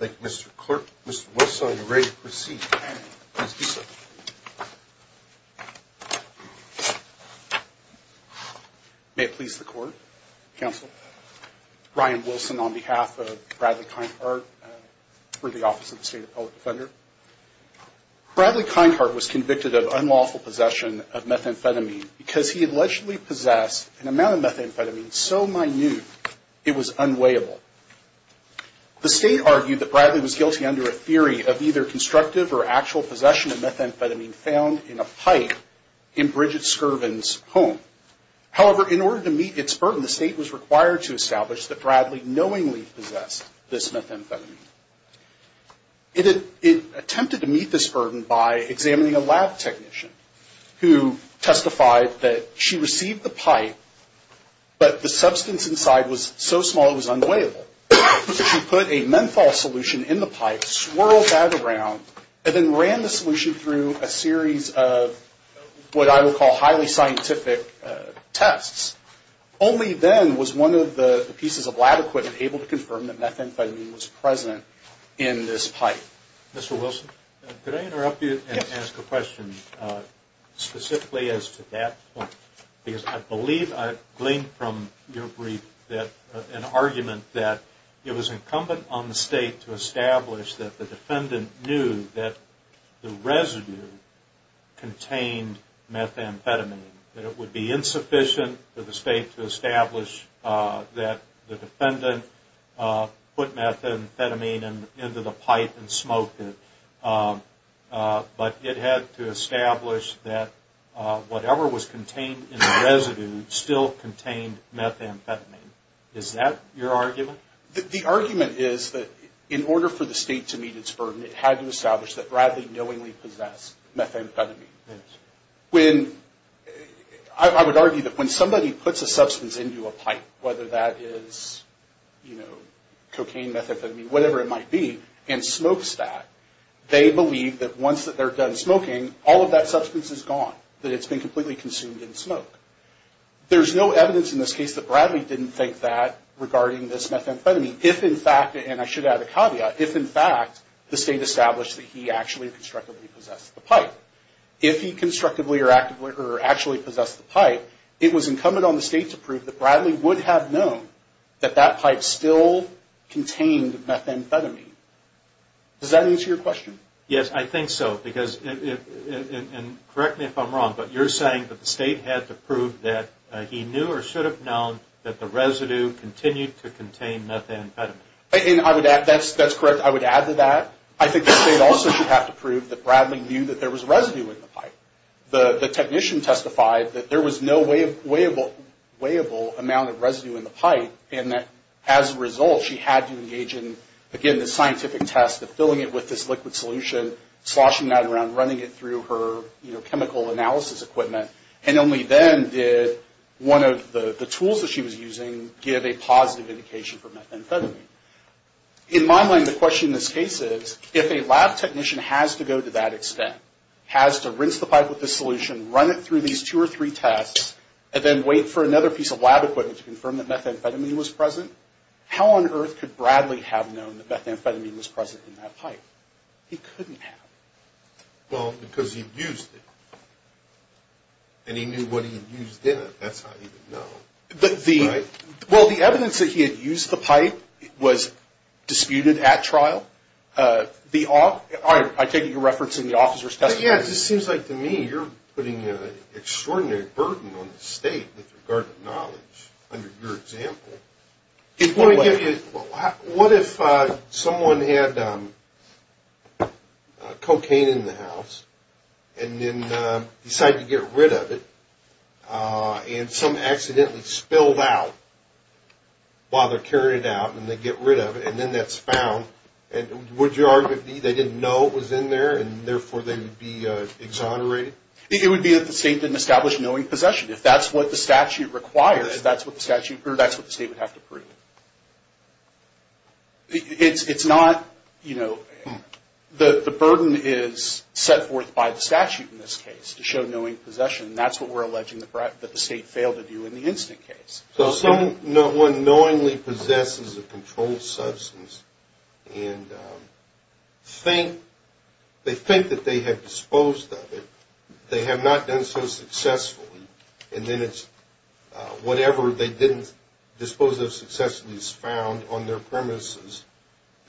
Thank you Mr. Clerk, Mr. Wilson, you're ready to proceed. May it please the court, counsel. Ryan Wilson on behalf of Bradley Kindhart for the Office of the State Appellate Defender. Bradley Kindhart was convicted of unlawful possession of methamphetamine because he allegedly possessed an amount of methamphetamine so minute it was unweighable. The state argued that Bradley was guilty under a theory of either constructive or actual possession of methamphetamine found in a pipe in Bridget Scurvin's home. However, in order to meet its burden, the state was required to establish that Bradley knowingly possessed this methamphetamine. It attempted to meet this burden by examining a lab technician who testified that she received the pipe, but the substance inside was so small it was unweighable. She put a menthol solution in the pipe, swirled that around, and then ran the solution through a series of what I would call highly scientific tests. Only then was one of the pieces of lab equipment able to confirm that methamphetamine was present in this pipe. Mr. Wilson? Could I interrupt you and ask a question specifically as to that point because I believe I've gleaned from your brief that an argument that it was incumbent on the state to establish that the residue contained methamphetamine, that it would be insufficient for the state to establish that the defendant put methamphetamine into the pipe and smoked it, but it had to establish that whatever was contained in the residue still contained methamphetamine. Is that your argument? The argument is that in order for the state to meet its burden, it had to establish that it contained methamphetamine. I would argue that when somebody puts a substance into a pipe, whether that is cocaine, methamphetamine, whatever it might be, and smokes that, they believe that once they're done smoking, all of that substance is gone, that it's been completely consumed in smoke. There's no evidence in this case that Bradley didn't think that regarding this methamphetamine if in fact, and I should add a caveat, if in fact the state established that he actually constructively possessed the pipe, if he constructively or actually possessed the pipe, it was incumbent on the state to prove that Bradley would have known that that pipe still contained methamphetamine. Does that answer your question? Yes, I think so, because, and correct me if I'm wrong, but you're saying that the state had to prove that he knew or should have known that the residue continued to contain methamphetamine. I would add, that's correct, I would add to that. I think the state also should have to prove that Bradley knew that there was residue in the pipe. The technician testified that there was no weighable amount of residue in the pipe and that as a result, she had to engage in, again, the scientific test of filling it with this liquid solution, sloshing that around, running it through her chemical analysis equipment, and only then did one of the tools that she was using give a positive indication for methamphetamine. In my mind, the question in this case is, if a lab technician has to go to that extent, has to rinse the pipe with the solution, run it through these two or three tests, and then wait for another piece of lab equipment to confirm that methamphetamine was present, how on earth could Bradley have known that methamphetamine was present in that pipe? He couldn't have. Well, because he used it, and he knew what he had used in it, that's how he would know. Right. Well, the evidence that he had used the pipe was disputed at trial. I take it you're referencing the officer's testimony. Yeah, it just seems like to me you're putting an extraordinary burden on the state with regard to knowledge under your example. What if someone had cocaine in the house and then decided to get rid of it, and some accidentally spilled out while they're carrying it out, and they get rid of it, and then that's found? Would your argument be they didn't know it was in there, and therefore they would be exonerated? It would be that the state didn't establish knowing possession. If that's what the statute requires, that's what the state would have to prove. It's not, you know, the burden is set forth by the statute in this case to show knowing possession. That's what we're alleging that the state failed to do in the instant case. So someone knowingly possesses a controlled substance and they think that they have disposed of it, they have not done so successfully, and then it's whatever they didn't dispose of successfully is found on their premises.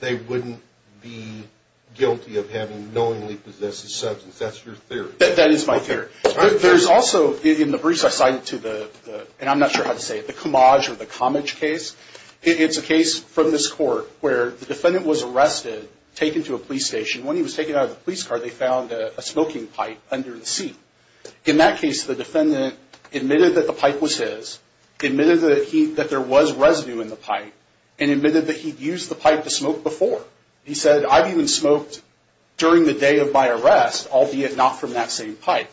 They wouldn't be guilty of having knowingly possessed a substance. That's your theory. That is my theory. There's also, in the briefs I cited to the, and I'm not sure how to say it, the Comage or the Comage case, it's a case from this court where the defendant was arrested, taken to a police station. When he was taken out of the police car, they found a smoking pipe under the seat. In that case, the defendant admitted that the pipe was his, admitted that there was residue in the pipe, and admitted that he'd used the pipe to smoke before. He said, I've even smoked during the day of my arrest, albeit not from that same pipe.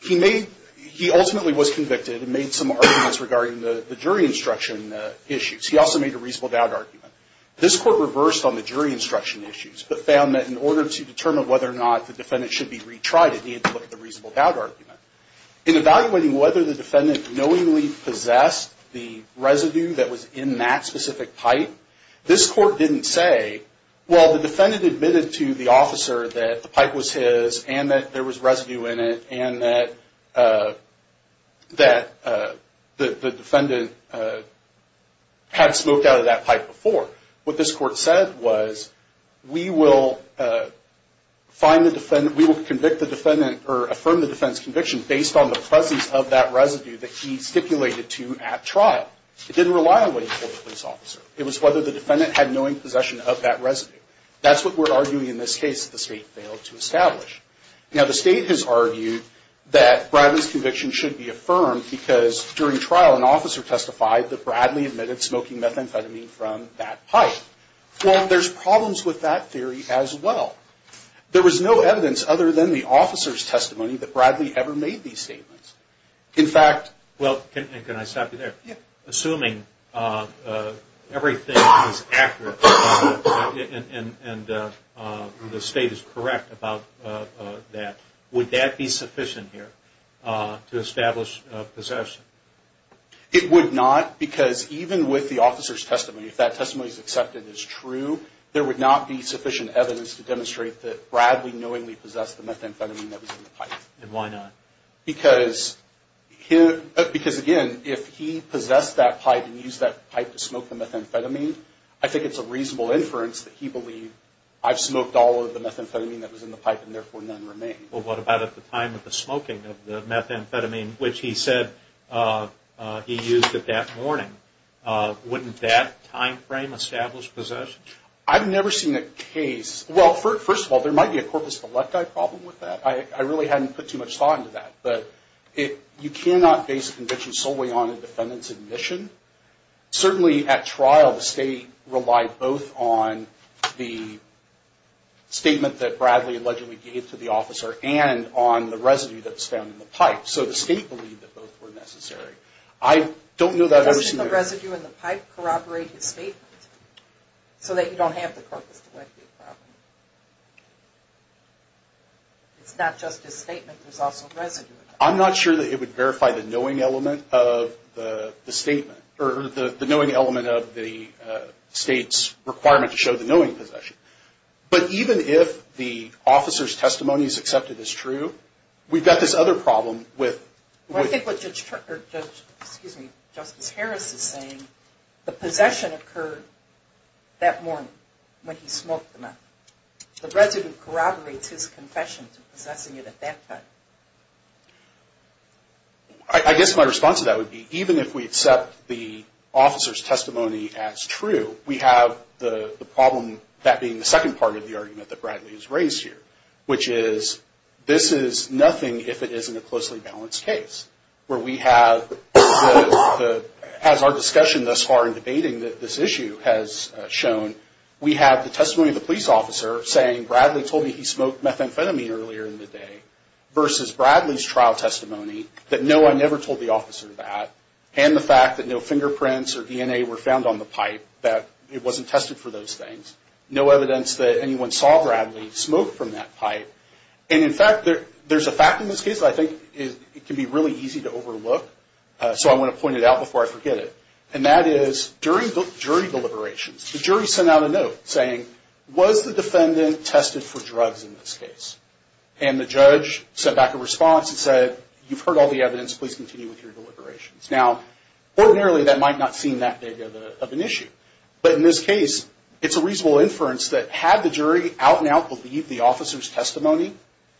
He made, he ultimately was convicted and made some arguments regarding the jury instruction issues. He also made a reasonable doubt argument. This court reversed on the jury instruction issues, but found that in order to determine whether or not the defendant should be retried, it needed to look at the reasonable doubt argument. In evaluating whether the defendant knowingly possessed the residue that was in that specific pipe, this court didn't say, well the defendant admitted to the officer that the pipe was his and that there was residue in it and that the defendant had smoked out of that pipe before. What this court said was, we will find the defendant, we will convict the defendant or affirm the defendant's conviction based on the presence of that residue that he stipulated to at trial. It didn't rely on what he told the police officer. It was whether the defendant had knowing possession of that residue. That's what we're arguing in this case that the state failed to establish. Now the state has argued that Bradley's conviction should be affirmed because during trial an officer testified that Bradley admitted smoking methamphetamine from that pipe. Well, there's problems with that theory as well. There was no evidence other than the officer's testimony that Bradley ever made these statements. In fact- Can I stop you there? Assuming everything is accurate and the state is correct about that, would that be sufficient here to establish possession? It would not because even with the officer's testimony, if that testimony is accepted as true, there would not be sufficient evidence to demonstrate that Bradley knowingly possessed the methamphetamine that was in the pipe. And why not? Because again, if he possessed that pipe and used that pipe to smoke the methamphetamine, I think it's a reasonable inference that he believed, I've smoked all of the methamphetamine that was in the pipe and therefore none remain. Well, what about at the time of the smoking of the methamphetamine, which he said he used it that morning? Wouldn't that time frame establish possession? I've never seen a case- Well, first of all, there might be a corpus velecti problem with that. I really hadn't put too much thought into that. But you cannot base a conviction solely on a defendant's admission. Certainly, at trial, the state relied both on the statement that Bradley allegedly gave to the officer and on the residue that was found in the pipe. So the state believed that both were necessary. I don't know that I've ever seen- Doesn't the residue in the pipe corroborate his statement? So that you don't have the corpus velecti problem? It's not just his statement, there's also residue. I'm not sure that it would verify the knowing element of the statement, or the knowing element of the state's requirement to show the knowing possession. But even if the officer's testimony is accepted as true, we've got this other problem with- Well, I think what Justice Harris is saying, the possession occurred that morning when he smoked the meth. The residue corroborates his confession to possessing it at that time. I guess my response to that would be, even if we accept the officer's testimony as true, we have the problem, that being the second part of the argument that Bradley has raised here, which is, this is nothing if it isn't a closely balanced case. Where we have, as our discussion thus far in debating this issue has shown, we have the testimony of the police officer saying, Bradley told me he smoked methamphetamine earlier in the day. Versus Bradley's trial testimony, that no, I never told the officer that. And the fact that no fingerprints or DNA were found on the pipe, that it wasn't tested for those things. No evidence that anyone saw Bradley smoke from that pipe. And in fact, there's a fact in this case that I think can be really easy to overlook. So I want to point it out before I forget it. And that is, during jury deliberations, the jury sent out a note saying, was the defendant tested for drugs in this case? And the judge sent back a response and said, you've heard all the evidence, please continue with your deliberations. Now, ordinarily that might not seem that big of an issue. But in this case, it's a reasonable inference that had the jury out and out believed the officer's testimony,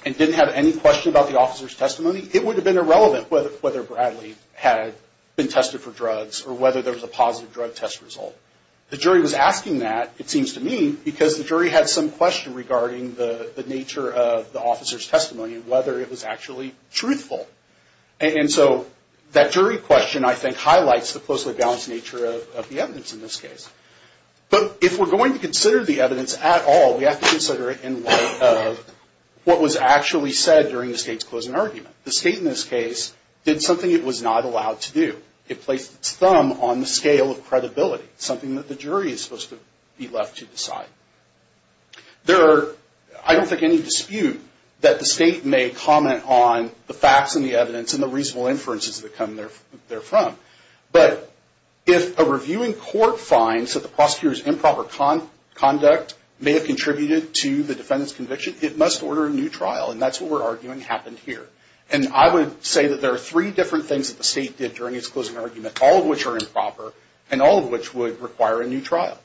and didn't have any question about the officer's testimony, it would have been irrelevant whether Bradley had been tested for drugs, or whether there was a positive drug test result. The jury was asking that, it seems to me, because the jury had some question regarding the nature of the officer's testimony, and whether it was actually truthful. And so that jury question, I think, highlights the closely balanced nature of the evidence in this case. But if we're going to consider the evidence at all, we have to consider it in light of what was actually said during the state's closing argument. The state, in this case, did something it was not allowed to do. It placed its thumb on the scale of credibility, something that the jury is supposed to be left to decide. There are, I don't think, any dispute that the state may comment on the facts and the evidence and the reasonable inferences that come there from. But if a reviewing court finds that the prosecutor's improper conduct may have contributed to the defendant's conviction, it must order a new trial, and that's what we're arguing happened here. And I would say that there are three different things that the state did during its closing argument, all of which are improper, and all of which would require a new trial.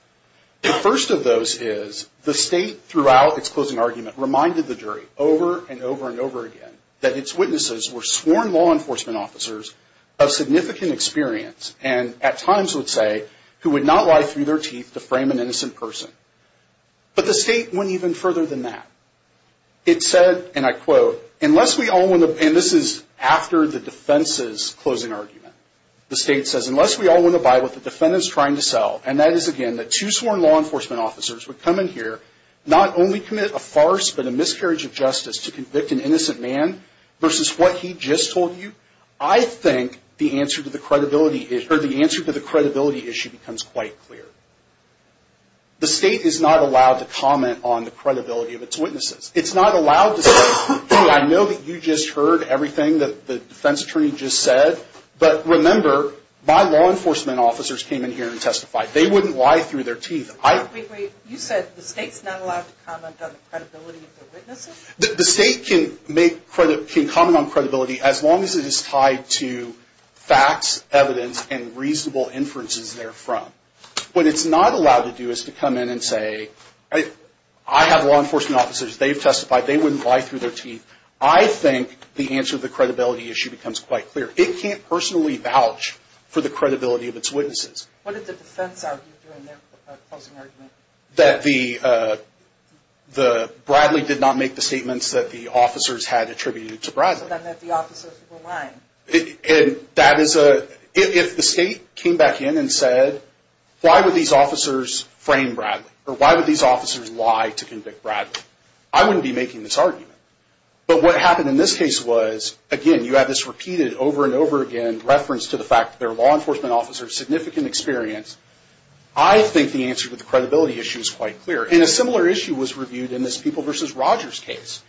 The first of those is, the state, throughout its closing argument, reminded the jury, over and over and over again, that its witnesses were sworn law enforcement officers of significant experience, and at times would say, who would not lie through their teeth to frame an innocent person. But the state went even further than that. It said, and I quote, unless we all want to, and this is after the defense's closing argument, the state says, unless we all want to buy what the defendant's trying to sell, and that is, again, that two sworn law enforcement officers would come in here, not only commit a farce, but a miscarriage of justice to convict an innocent man, versus what he just told you, I think the answer to the credibility issue becomes quite clear. The state is not allowed to comment on the credibility of its witnesses. It's not allowed to say, I know that you just heard everything that the defense attorney just said, but remember, my law enforcement officers came in here and testified. They wouldn't lie through their teeth. Wait, wait, you said the state's not allowed to comment on the credibility of their witnesses? The state can make, can comment on credibility as long as it is tied to facts, evidence, and reasonable inferences therefrom. What it's not allowed to do is to come in and say, I have law enforcement officers, they've testified, they wouldn't lie through their teeth. I think the answer to the credibility issue becomes quite clear. It can't personally vouch for the credibility of its witnesses. What did the defense argue during their closing argument? That the, Bradley did not make the statements that the officers had attributed to Bradley. So then that the officers were lying. And that is a, if the state came back in and said, why would these officers frame Bradley? Or why would these officers lie to convict Bradley? I wouldn't be making this argument. But what happened in this case was, again, you have this repeated over and over again, reference to the fact that they're law enforcement officers, significant experience. I think the answer to the credibility issue is quite clear. And a similar issue was reviewed in this People v. Rogers case.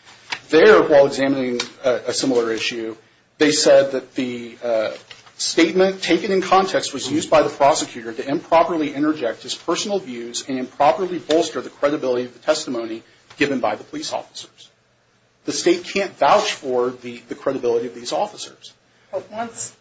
There, while examining a similar issue, they said that the statement taken in context was used by the prosecutor to improperly interject his personal views and improperly bolster the credibility of the testimony given by the police officers. The state can't vouch for the credibility of these officers. But once,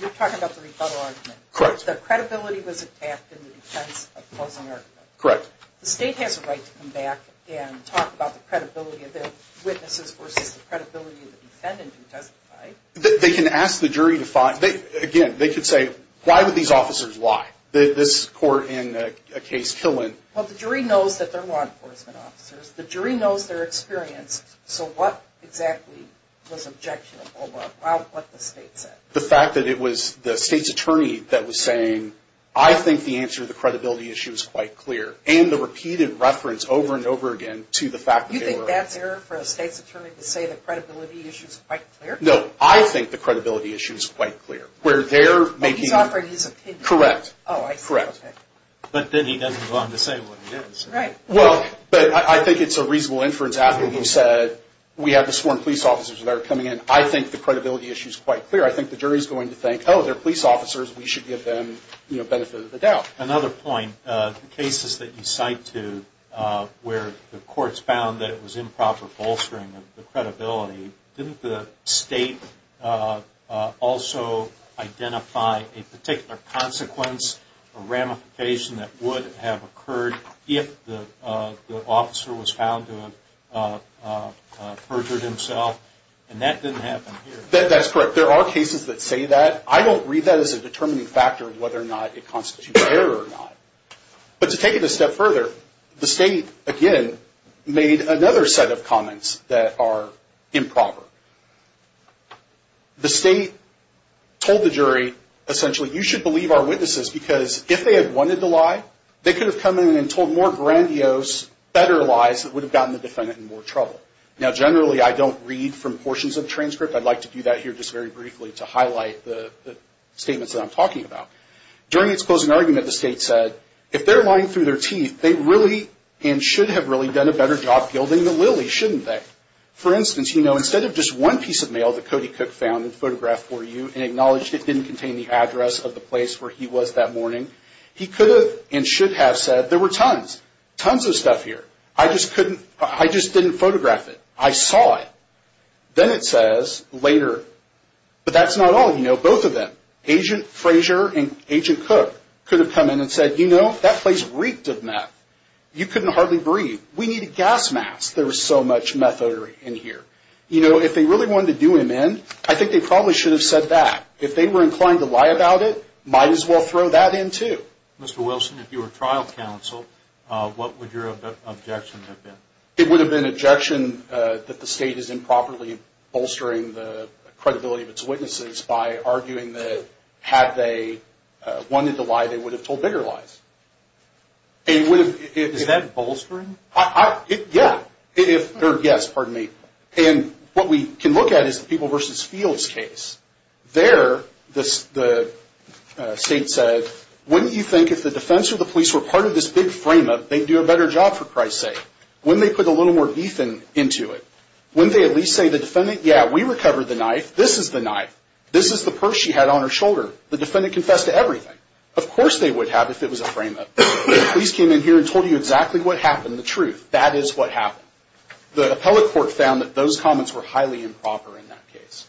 you're talking about the rebuttal argument. Correct. The credibility was attacked in the defense of the closing argument. Correct. The state has a right to come back and talk about the credibility of their witnesses versus the credibility of the defendant who testified. They can ask the jury to find, again, they could say, why would these officers lie? This court in a case, Killen. Well, the jury knows that they're law enforcement officers. The jury knows their experience. So what exactly was objectionable about what the state said? The fact that it was the state's attorney that was saying, I think the answer to the credibility issue is quite clear. And the repeated reference over and over again to the fact that they were You think that's error for a state's attorney to say the credibility issue is quite clear? No. I think the credibility issue is quite clear. Where they're making But he's offering his opinion. Correct. Oh, I see. Correct. But then he doesn't belong to say what he did. Right. Well, but I think it's a reasonable inference after he said, we have the sworn police officers that are coming in. I think the credibility issue is quite clear. I think the jury is going to think, oh, they're police officers. We should give them, you know, benefit of the doubt. Another point. The cases that you cite too, where the courts found that it was improper bolstering of the credibility. Didn't the state also identify a particular consequence or ramification that would have occurred if the officer was found to have perjured himself? And that didn't happen here. That's correct. There are cases that say that. I don't read that as a determining factor of whether or not it constitutes error or not. But to take it a step further, the state, again, made another set of comments that are improper. The state told the jury, essentially, you should believe our witnesses because if they had wanted to lie, they could have come in and told more grandiose, better lies that would have gotten the defendant in more trouble. Now, generally, I don't read from portions of the transcript. I'd like to do that here just very briefly to highlight the statements that I'm talking about. During its closing argument, the state said, if they're lying through their teeth, they really and should have really done a better job gilding the lily, shouldn't they? For instance, you know, instead of just one piece of mail that Cody Cook found and photographed for you and acknowledged it didn't contain the address of the place where he was that morning, he could have and should have said, there were tons, tons of stuff here. I just couldn't, I just didn't photograph it. I saw it. Then it says later, but that's not all, you know, both of them, Agent Frazier and Agent Cook could have come in and said, you know, that place reeked of meth. You couldn't hardly breathe. We need a gas mask. There was so much meth odor in here. You know, if they really wanted to do him in, I think they probably should have said that. If they were inclined to lie about it, might as well throw that in too. Mr. Wilson, if you were trial counsel, what would your objection have been? It would have been an objection that the state is improperly bolstering the credibility of its witnesses by arguing that had they wanted to lie, they would have told bigger lies. Is that bolstering? Yeah, or yes, pardon me. And what we can look at is the People v. Fields case. There, the state said, wouldn't you think if the defense or the police were part of this big frame-up, they'd do a better job for Christ's sake? Wouldn't they put a little more beef into it? Wouldn't they at least say to the defendant, yeah, we recovered the knife. This is the knife. This is the purse she had on her shoulder. The defendant confessed to everything. Of course they would have if it was a frame-up. The police came in here and told you exactly what happened, the truth. That is what happened. The appellate court found that those comments were highly improper in that case.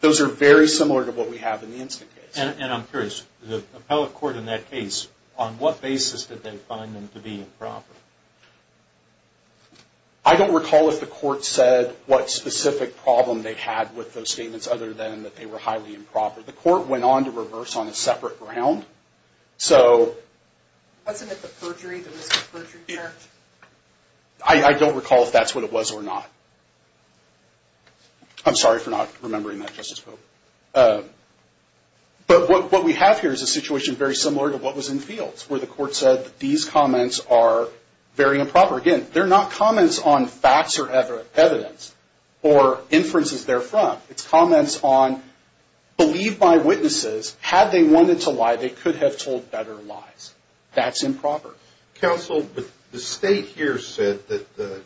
Those are very similar to what we have in the instant case. And I'm curious, the appellate court in that case, on what basis did they find them to be improper? I don't recall if the court said what specific problem they had with those statements other than that they were highly improper. The court went on to reverse on a separate ground. So... Wasn't it the perjury that was the perjury charge? I don't recall if that's what it was or not. I'm sorry for not remembering that, Justice Pope. But what we have here is a situation very similar to what was in Fields, where the court said that these comments are very improper. Again, they're not comments on facts or evidence or inferences therefrom. It's comments on, believe my witnesses, had they wanted to lie, they could have told better lies. That's improper. Counsel, the state here said that the...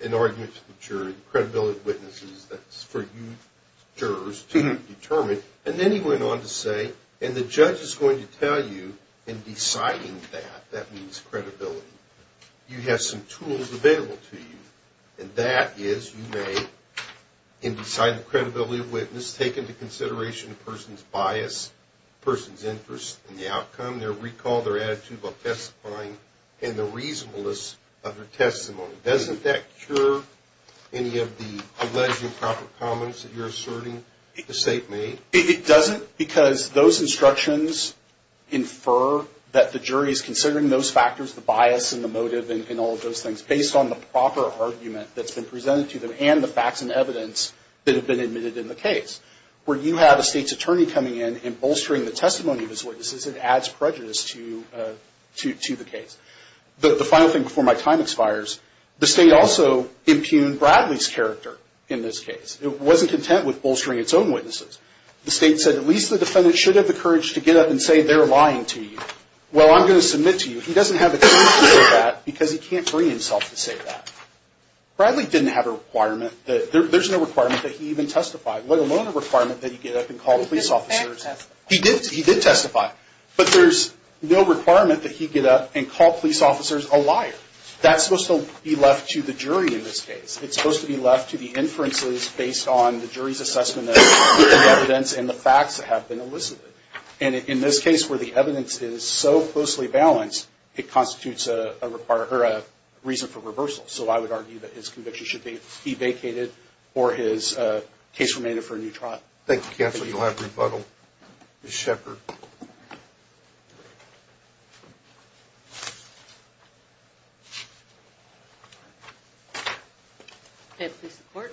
In arguments with the jury, credibility of witnesses, that's for you, jurors, to determine. And then he went on to say, And the judge is going to tell you in deciding that, that means credibility, you have some tools available to you. And that is, you may, in deciding the credibility of a witness, take into consideration a person's bias, a person's interest in the outcome, their recall, their attitude about testifying, and the reasonableness of their testimony. Doesn't that cure any of the alleged improper comments that you're asserting the state made? It doesn't because those instructions infer that the jury is considering those factors, the bias and the motive and all of those things, based on the proper argument that's been presented to them and the facts and evidence that have been admitted in the case. Where you have a state's attorney coming in and bolstering the testimony of his witnesses, it adds prejudice to the case. The final thing before my time expires, the state also impugned Bradley's character in this case. It wasn't content with bolstering its own witnesses. The state said, at least the defendant should have the courage to get up and say they're lying to you. Well, I'm going to submit to you. He doesn't have the courage to say that because he can't bring himself to say that. Bradley didn't have a requirement, there's no requirement that he even testify, let alone a requirement that he get up and call police officers. He did testify. But there's no requirement that he get up and call police officers a liar. That's supposed to be left to the jury in this case. It's supposed to be left to the inferences based on the jury's assessment of evidence and the facts that have been elicited. And in this case, where the evidence is so closely balanced, it constitutes a reason for reversal. So I would argue that his conviction should be vacated or his case remained for a new trial. Thank you, counsel. You'll have rebuttal. Ms. Sheppard. May it please the court,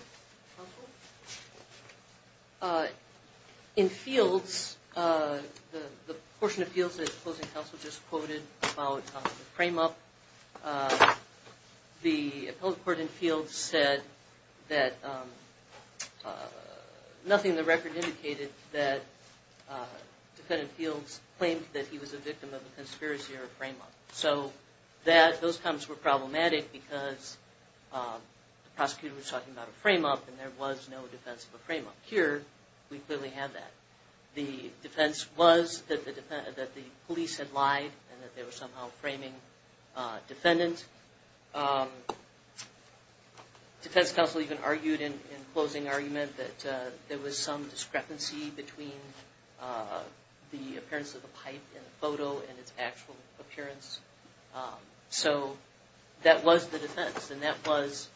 counsel. In fields, the portion of fields that the closing counsel just quoted about the frame-up, the appellate court in fields said that So I would argue that the defendant in fields claimed that he was a victim of a conspiracy or a frame-up. So those comments were problematic because the prosecutor was talking about a frame-up and there was no defense of a frame-up. Here, we clearly have that. The defense was that the police had lied and that they were somehow framing defendants. Defense counsel even argued in closing argument that there was some discrepancy between the appearance of the pipe in the photo and its actual appearance. So that was the defense. And that was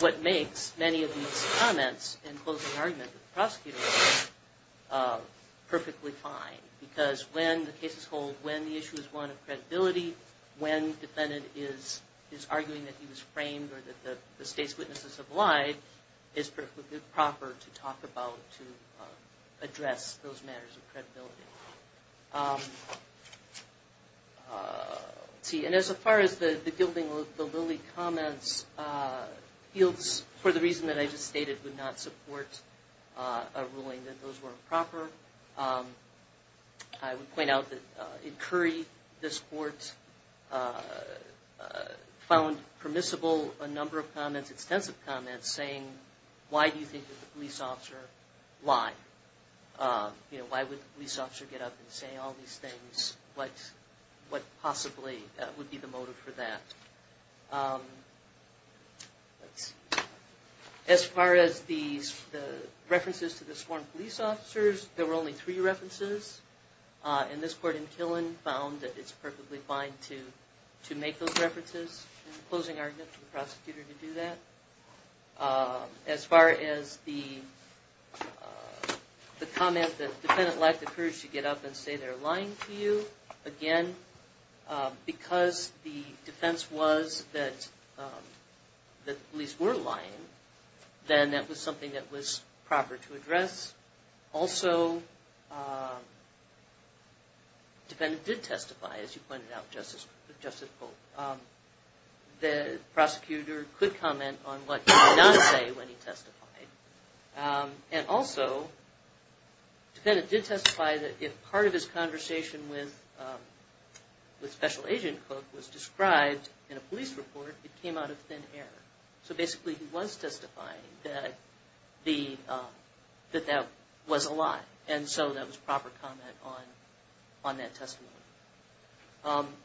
what makes many of these comments in closing argument with the prosecutor perfectly fine. Because when the cases hold, when the issue is one of credibility, when the defendant is arguing that he was framed or that the state's witnesses have lied, it's perfectly proper to talk about to address those matters of credibility. And as far as the gilding of the Lilly comments, fields, for the reason that I just stated, would not support a ruling that those were improper. I would point out that in Curry, this court found permissible a number of comments, extensive comments, saying, why do you think that the police officer lied? Why would the police officer get up and say all these things? What possibly would be the motive for that? As far as the references to the sworn police officers, there were only three references. And this court in Killen found that it's perfectly fine to make those references in closing argument to the prosecutor to do that. As far as the comment that the defendant lacked the courage to get up and say they're lying to you, again, because the defense was that the police were lying, then that was something that was proper to address. Also, the defendant did testify, as you pointed out, Justice Cooke. The prosecutor could comment on what he did not say when he testified. And also, the defendant did testify that if part of his conversation with Special Agent Cooke was described in a police report, it came out of thin air. So basically, he was testifying that that was a lie. And so that was proper comment on that testimony.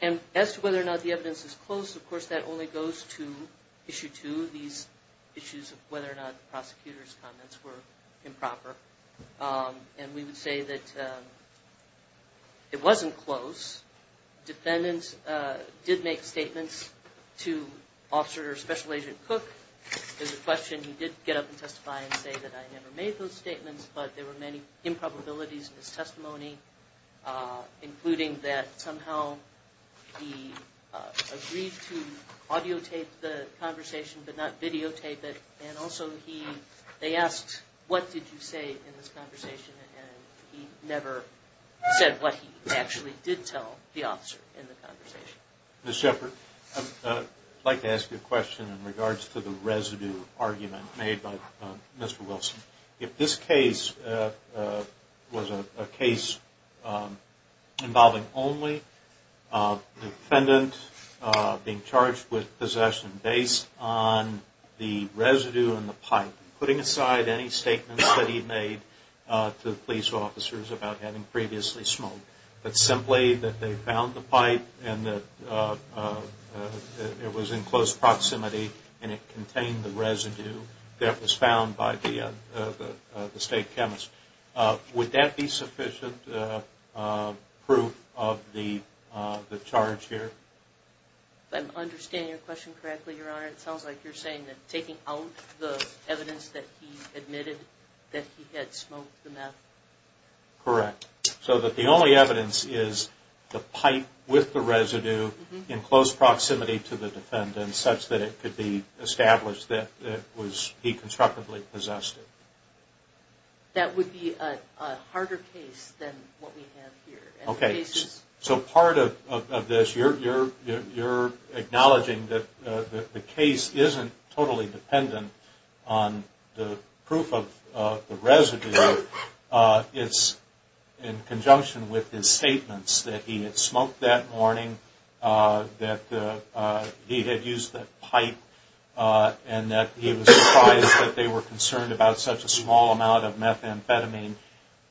And as to whether or not the evidence is close, of course, that only goes to Issue 2, these issues of whether or not the prosecutor's comments were improper. And we would say that it wasn't close. Defendants did make statements to Officer or Special Agent Cooke. There's a question, he did get up and testify and say that I never made those statements, but there were many improbabilities in his testimony, including that somehow he agreed to audiotape the conversation, but not videotape it. And also, they asked what did you say in this conversation, and he never said what he actually did tell the officer in the conversation. I'd like to ask you a question in regards to the residue argument made by Mr. Wilson. If this case was a case involving only a defendant being charged with possession based on the residue in the pipe, putting aside any statements that he made to police officers about having previously smoked, but simply that they found the pipe and that it was in close proximity and it contained the residue that was found by the state chemist, would that be sufficient proof of the charge here? If I'm understanding your question correctly, Your Honor, it sounds like you're saying that taking out the evidence that he admitted that he had smoked the meth. Correct. So that the only evidence is the pipe with the residue in close proximity to the defendant such that it could be established that he constructively possessed it. That would be a harder case than what we have here. So part of this, you're acknowledging that the case isn't totally dependent on the proof of the residue. It's in conjunction with his statements that he had smoked that morning, that he had used the pipe and that he was surprised that they were concerned about such a small amount of methamphetamine,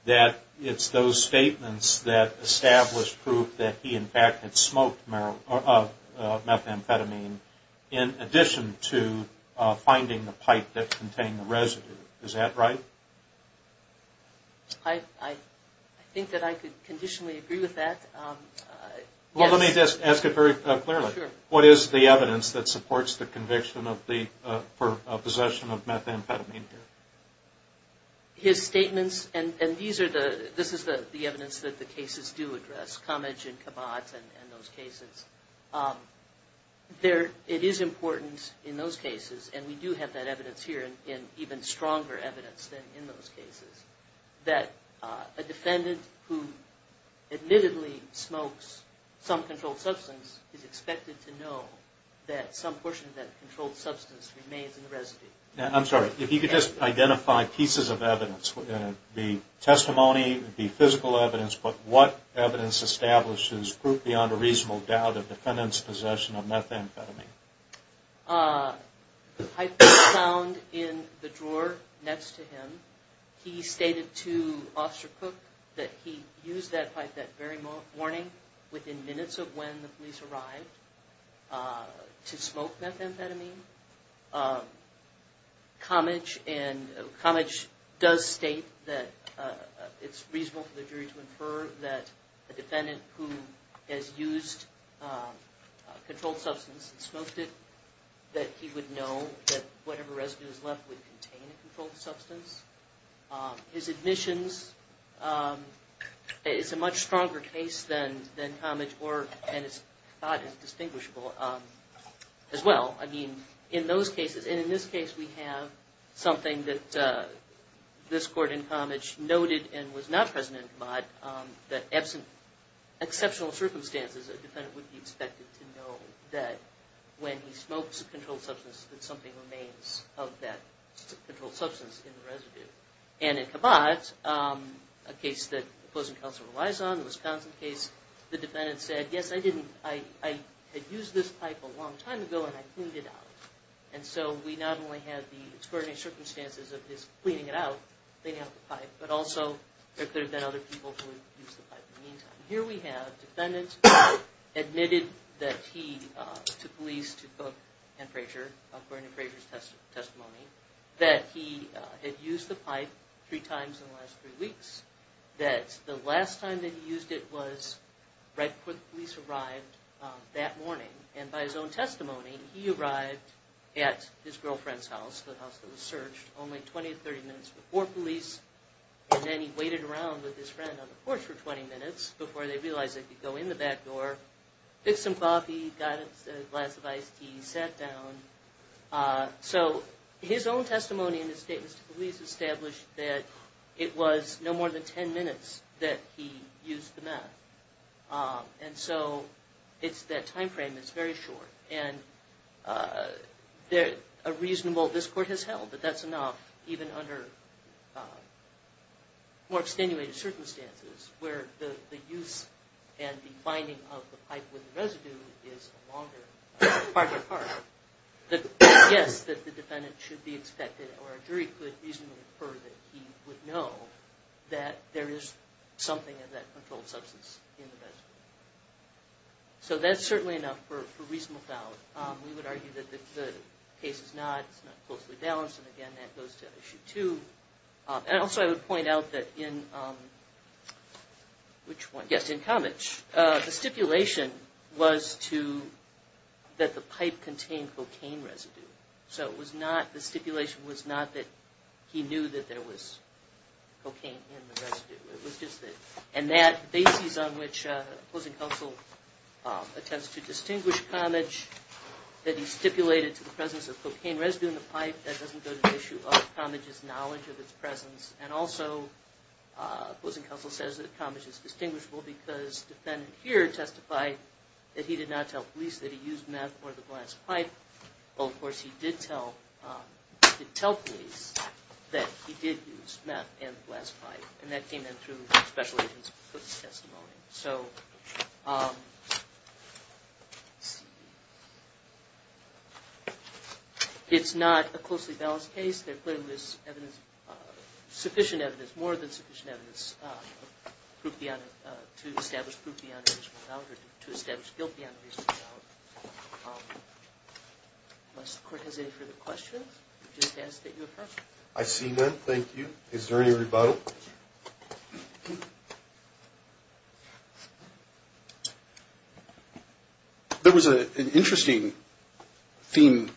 that it's those statements that established proof that he in fact had smoked methamphetamine in addition to finding the pipe that contained the residue. Is that right? I think that I could conditionally agree with that. Let me just ask it very clearly. What is the evidence that supports the conviction for possession of methamphetamine here? His statements, and this is the evidence that the cases do address, Comage and Kabat and those cases, it is important in those cases, and we do have that evidence here, and even stronger evidence than in those cases, that a defendant who admittedly smokes some controlled substance is expected to know that some portion of that controlled substance remains in the residue. I'm sorry. If you could just identify pieces of evidence, be testimony, be physical evidence, but what evidence establishes proof beyond a reasonable doubt of the defendant's possession of methamphetamine? The pipe was found in the drawer next to him. He stated to Officer Cook that he used that pipe that very morning, within minutes of when the police arrived, to smoke methamphetamine. Comage does state that it's reasonable for the jury to infer that a defendant who has used controlled substance and smoked it that he would know that whatever residue is left would contain a controlled substance. His admissions is a much stronger case than Comage and it's not as distinguishable as well. I mean, in those cases, and in this case we have something that this court in Comage noted and was not present in Kabat that absent exceptional circumstances, a defendant would be expected to know that when he smokes a controlled substance that something remains of that controlled substance in the residue. And in Kabat, a case that opposing counsel relies on, the Wisconsin case, the defendant said, yes, I had used this pipe a long time ago and I cleaned it out. And so we not only had the extraordinary circumstances of his cleaning it out, cleaning out the pipe, but also there could have been other people who had used the pipe in the meantime. Here we have, the defendant admitted that he to police, to Cook and Frazier according to Frazier's testimony, that he had used the pipe three times in the last three weeks that the last time that he used it was right before the police arrived that morning and by his own testimony, he arrived at his girlfriend's house, the house that was searched, only 20-30 minutes before police and then he waited around with his friend on the porch for 20 minutes before they realized they could go in the back door, pick some coffee, got a glass of iced tea, sat down. So his own testimony in his statement to police established that it was no more than 10 minutes that he used the meth. And so that time frame is very short and a reasonable, this court has held that that's enough even under more extenuated circumstances where the use and the binding of the pipe with the residue is a longer, farther apart. Yes, the defendant should be expected or a jury could reasonably infer that he would know that there is something of that controlled substance in the residue. So that's certainly enough for reasonable doubt. We would argue that the case is not closely balanced and again that goes to issue two. And also I would point out that in Kamich, the stipulation was that the pipe contained cocaine residue. So the stipulation was not that he knew that there was cocaine in the residue. And that basis on which opposing counsel attempts to distinguish Kamich that he stipulated to the presence of cocaine residue in the pipe that doesn't go to the issue of Kamich's knowledge of its presence. And also opposing counsel says that Kamich is distinguishable because the defendant here testified that he did not tell police that he used meth or the glass pipe. Well of course he did tell police that he did use meth and the glass pipe and that came in through special agent's testimony. So let's see it's not a closely balanced case there clearly was sufficient evidence more than sufficient evidence to establish proof beyond reasonable doubt unless the court has any further questions I just ask that you affirm. I see none, thank you. Is there any rebuttal? There was an interesting theme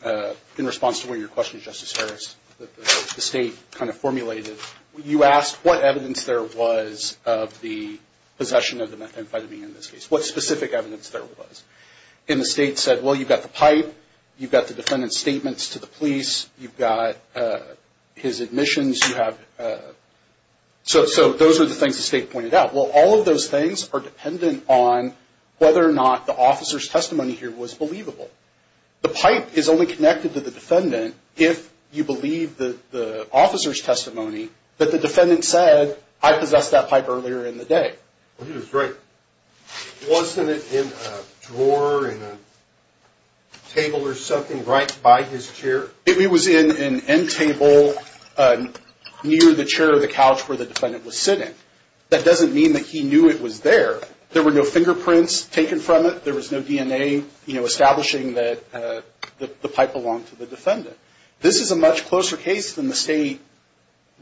in response to one of your questions Justice Harris that the state kind of formulated you asked what evidence there was of the possession of the methamphetamine in this case. What specific evidence there was? And the state said well you've got the pipe you've got the defendant's statements to the police you've got his admissions so those are the things the state pointed out. Well all of those things are dependent on whether or not the officer's testimony here was believable. if you believe the officer's testimony that the defendant said I possessed that pipe earlier in the day. Wasn't it in a drawer in a table or something right by his chair? It was in an end table near the chair or the couch where the defendant was sitting that doesn't mean that he knew it was there there were no fingerprints taken from it there was no DNA establishing that the pipe belonged to the defendant this is a much closer case than the state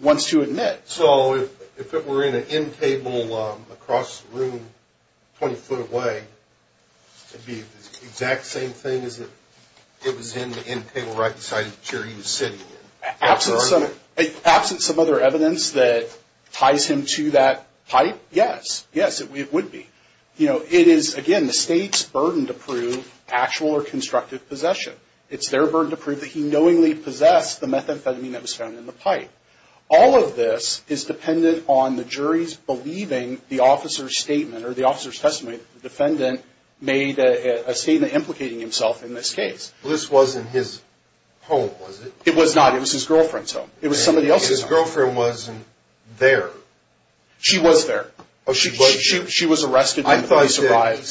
wants to admit. So if it were in an end table across the room 20 foot away would it be the exact same thing as if it was in the end table right beside the chair he was sitting in? Absent some other evidence that ties him to that pipe, yes it would be. It is again the state's burden to prove actual or constructive possession it's their burden to prove that he knowingly possessed the methamphetamine that was found in the pipe. All of this is dependent on the jury's believing the officer's statement or the officer's testimony that the defendant made a statement implicating himself in this case. This wasn't his home was it? It was not, it was his girlfriend's home. His girlfriend wasn't there? She was there. She was arrested when the police arrived.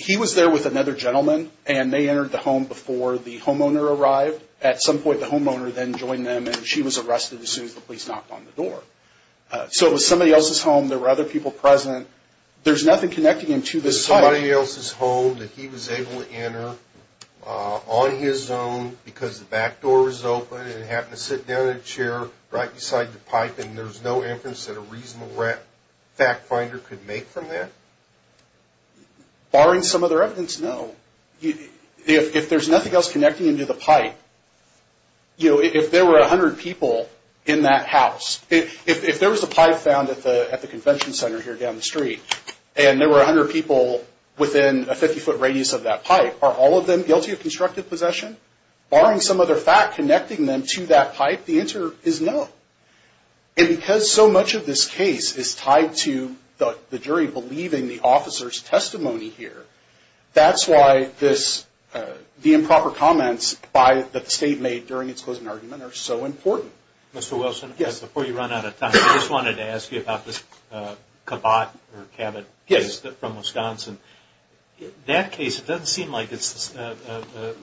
He was there with another gentleman and they entered the home before the homeowner arrived at some point the homeowner then joined them and she was arrested as soon as the police knocked on the door. So it was somebody else's home, there were other people present there's nothing connecting him to this pipe. It was somebody else's home that he was able to enter on his own because the back door was open and he happened to sit down in a chair right beside the pipe and there's no inference that a reasonable fact finder could make from that? Barring some other evidence, no. If there's nothing else connecting him to the pipe if there were 100 people in that house if there was a pipe found at the convention center here down the street and there were 100 people within a 50 foot radius of that pipe, are all of them guilty of constructive possession? Barring some other fact connecting them to that pipe, the answer is no. And because so much of this case is tied to the jury believing the officer's testimony here that's why the improper comments by the state made during its closing argument are so important. Before you run out of time, I just wanted to ask you about the Cabot case from Wisconsin. That case doesn't seem like it's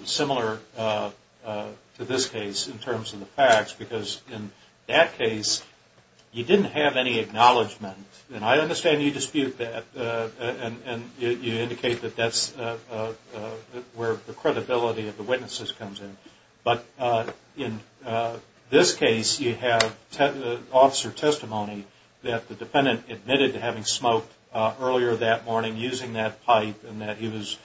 similar to this case in terms of the facts because in that case you didn't have any acknowledgment and I understand you dispute that and you indicate that that's where the credibility of the witnesses comes in but in this case you have the officer's testimony that the defendant admitted to having smoked earlier that morning using that pipe and that he was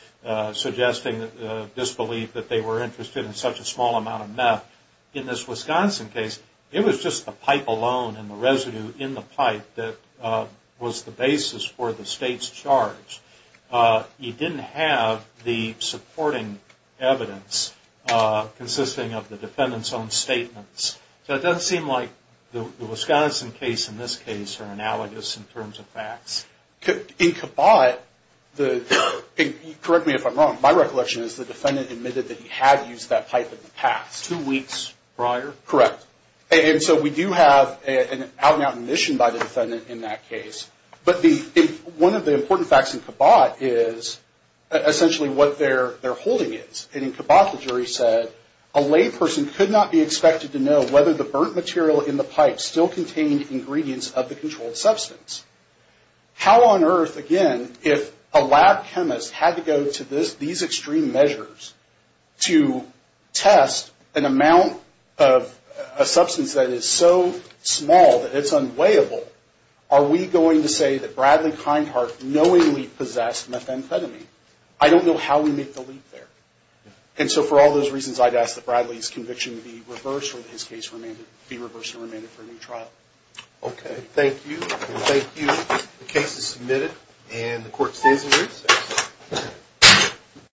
suggesting disbelief that they were interested in such a small amount of meth. In this Wisconsin case, it was just the pipe alone and the residue in the pipe that was the basis for the state's charge. You didn't have the supporting evidence consisting of the defendant's own statements. So it doesn't seem like the Wisconsin case and this case are analogous in terms of facts. In Cabot, correct me if I'm wrong, my recollection is the defendant admitted that he had used that pipe in the past. Two weeks prior? Correct. And so we do have an out and out admission by the defendant in that case but one of the important facts in Cabot is essentially what their holding is. In Cabot, the jury said a lay person could not be expected to know whether the burnt material in the pipe still contained ingredients of the controlled substance. How on earth, again, if a lab chemist had to go to these extreme measures to test an amount of a substance that is so small that it's unweighable, are we going to say that Bradley Kindheart knowingly possessed methamphetamine? I don't know how we make the leap there. And so for all those reasons, I'd ask that Bradley's conviction be reversed or that his case be reversed and remanded for a new trial. Okay. Thank you. Thank you. The case is submitted and the court stands adjourned.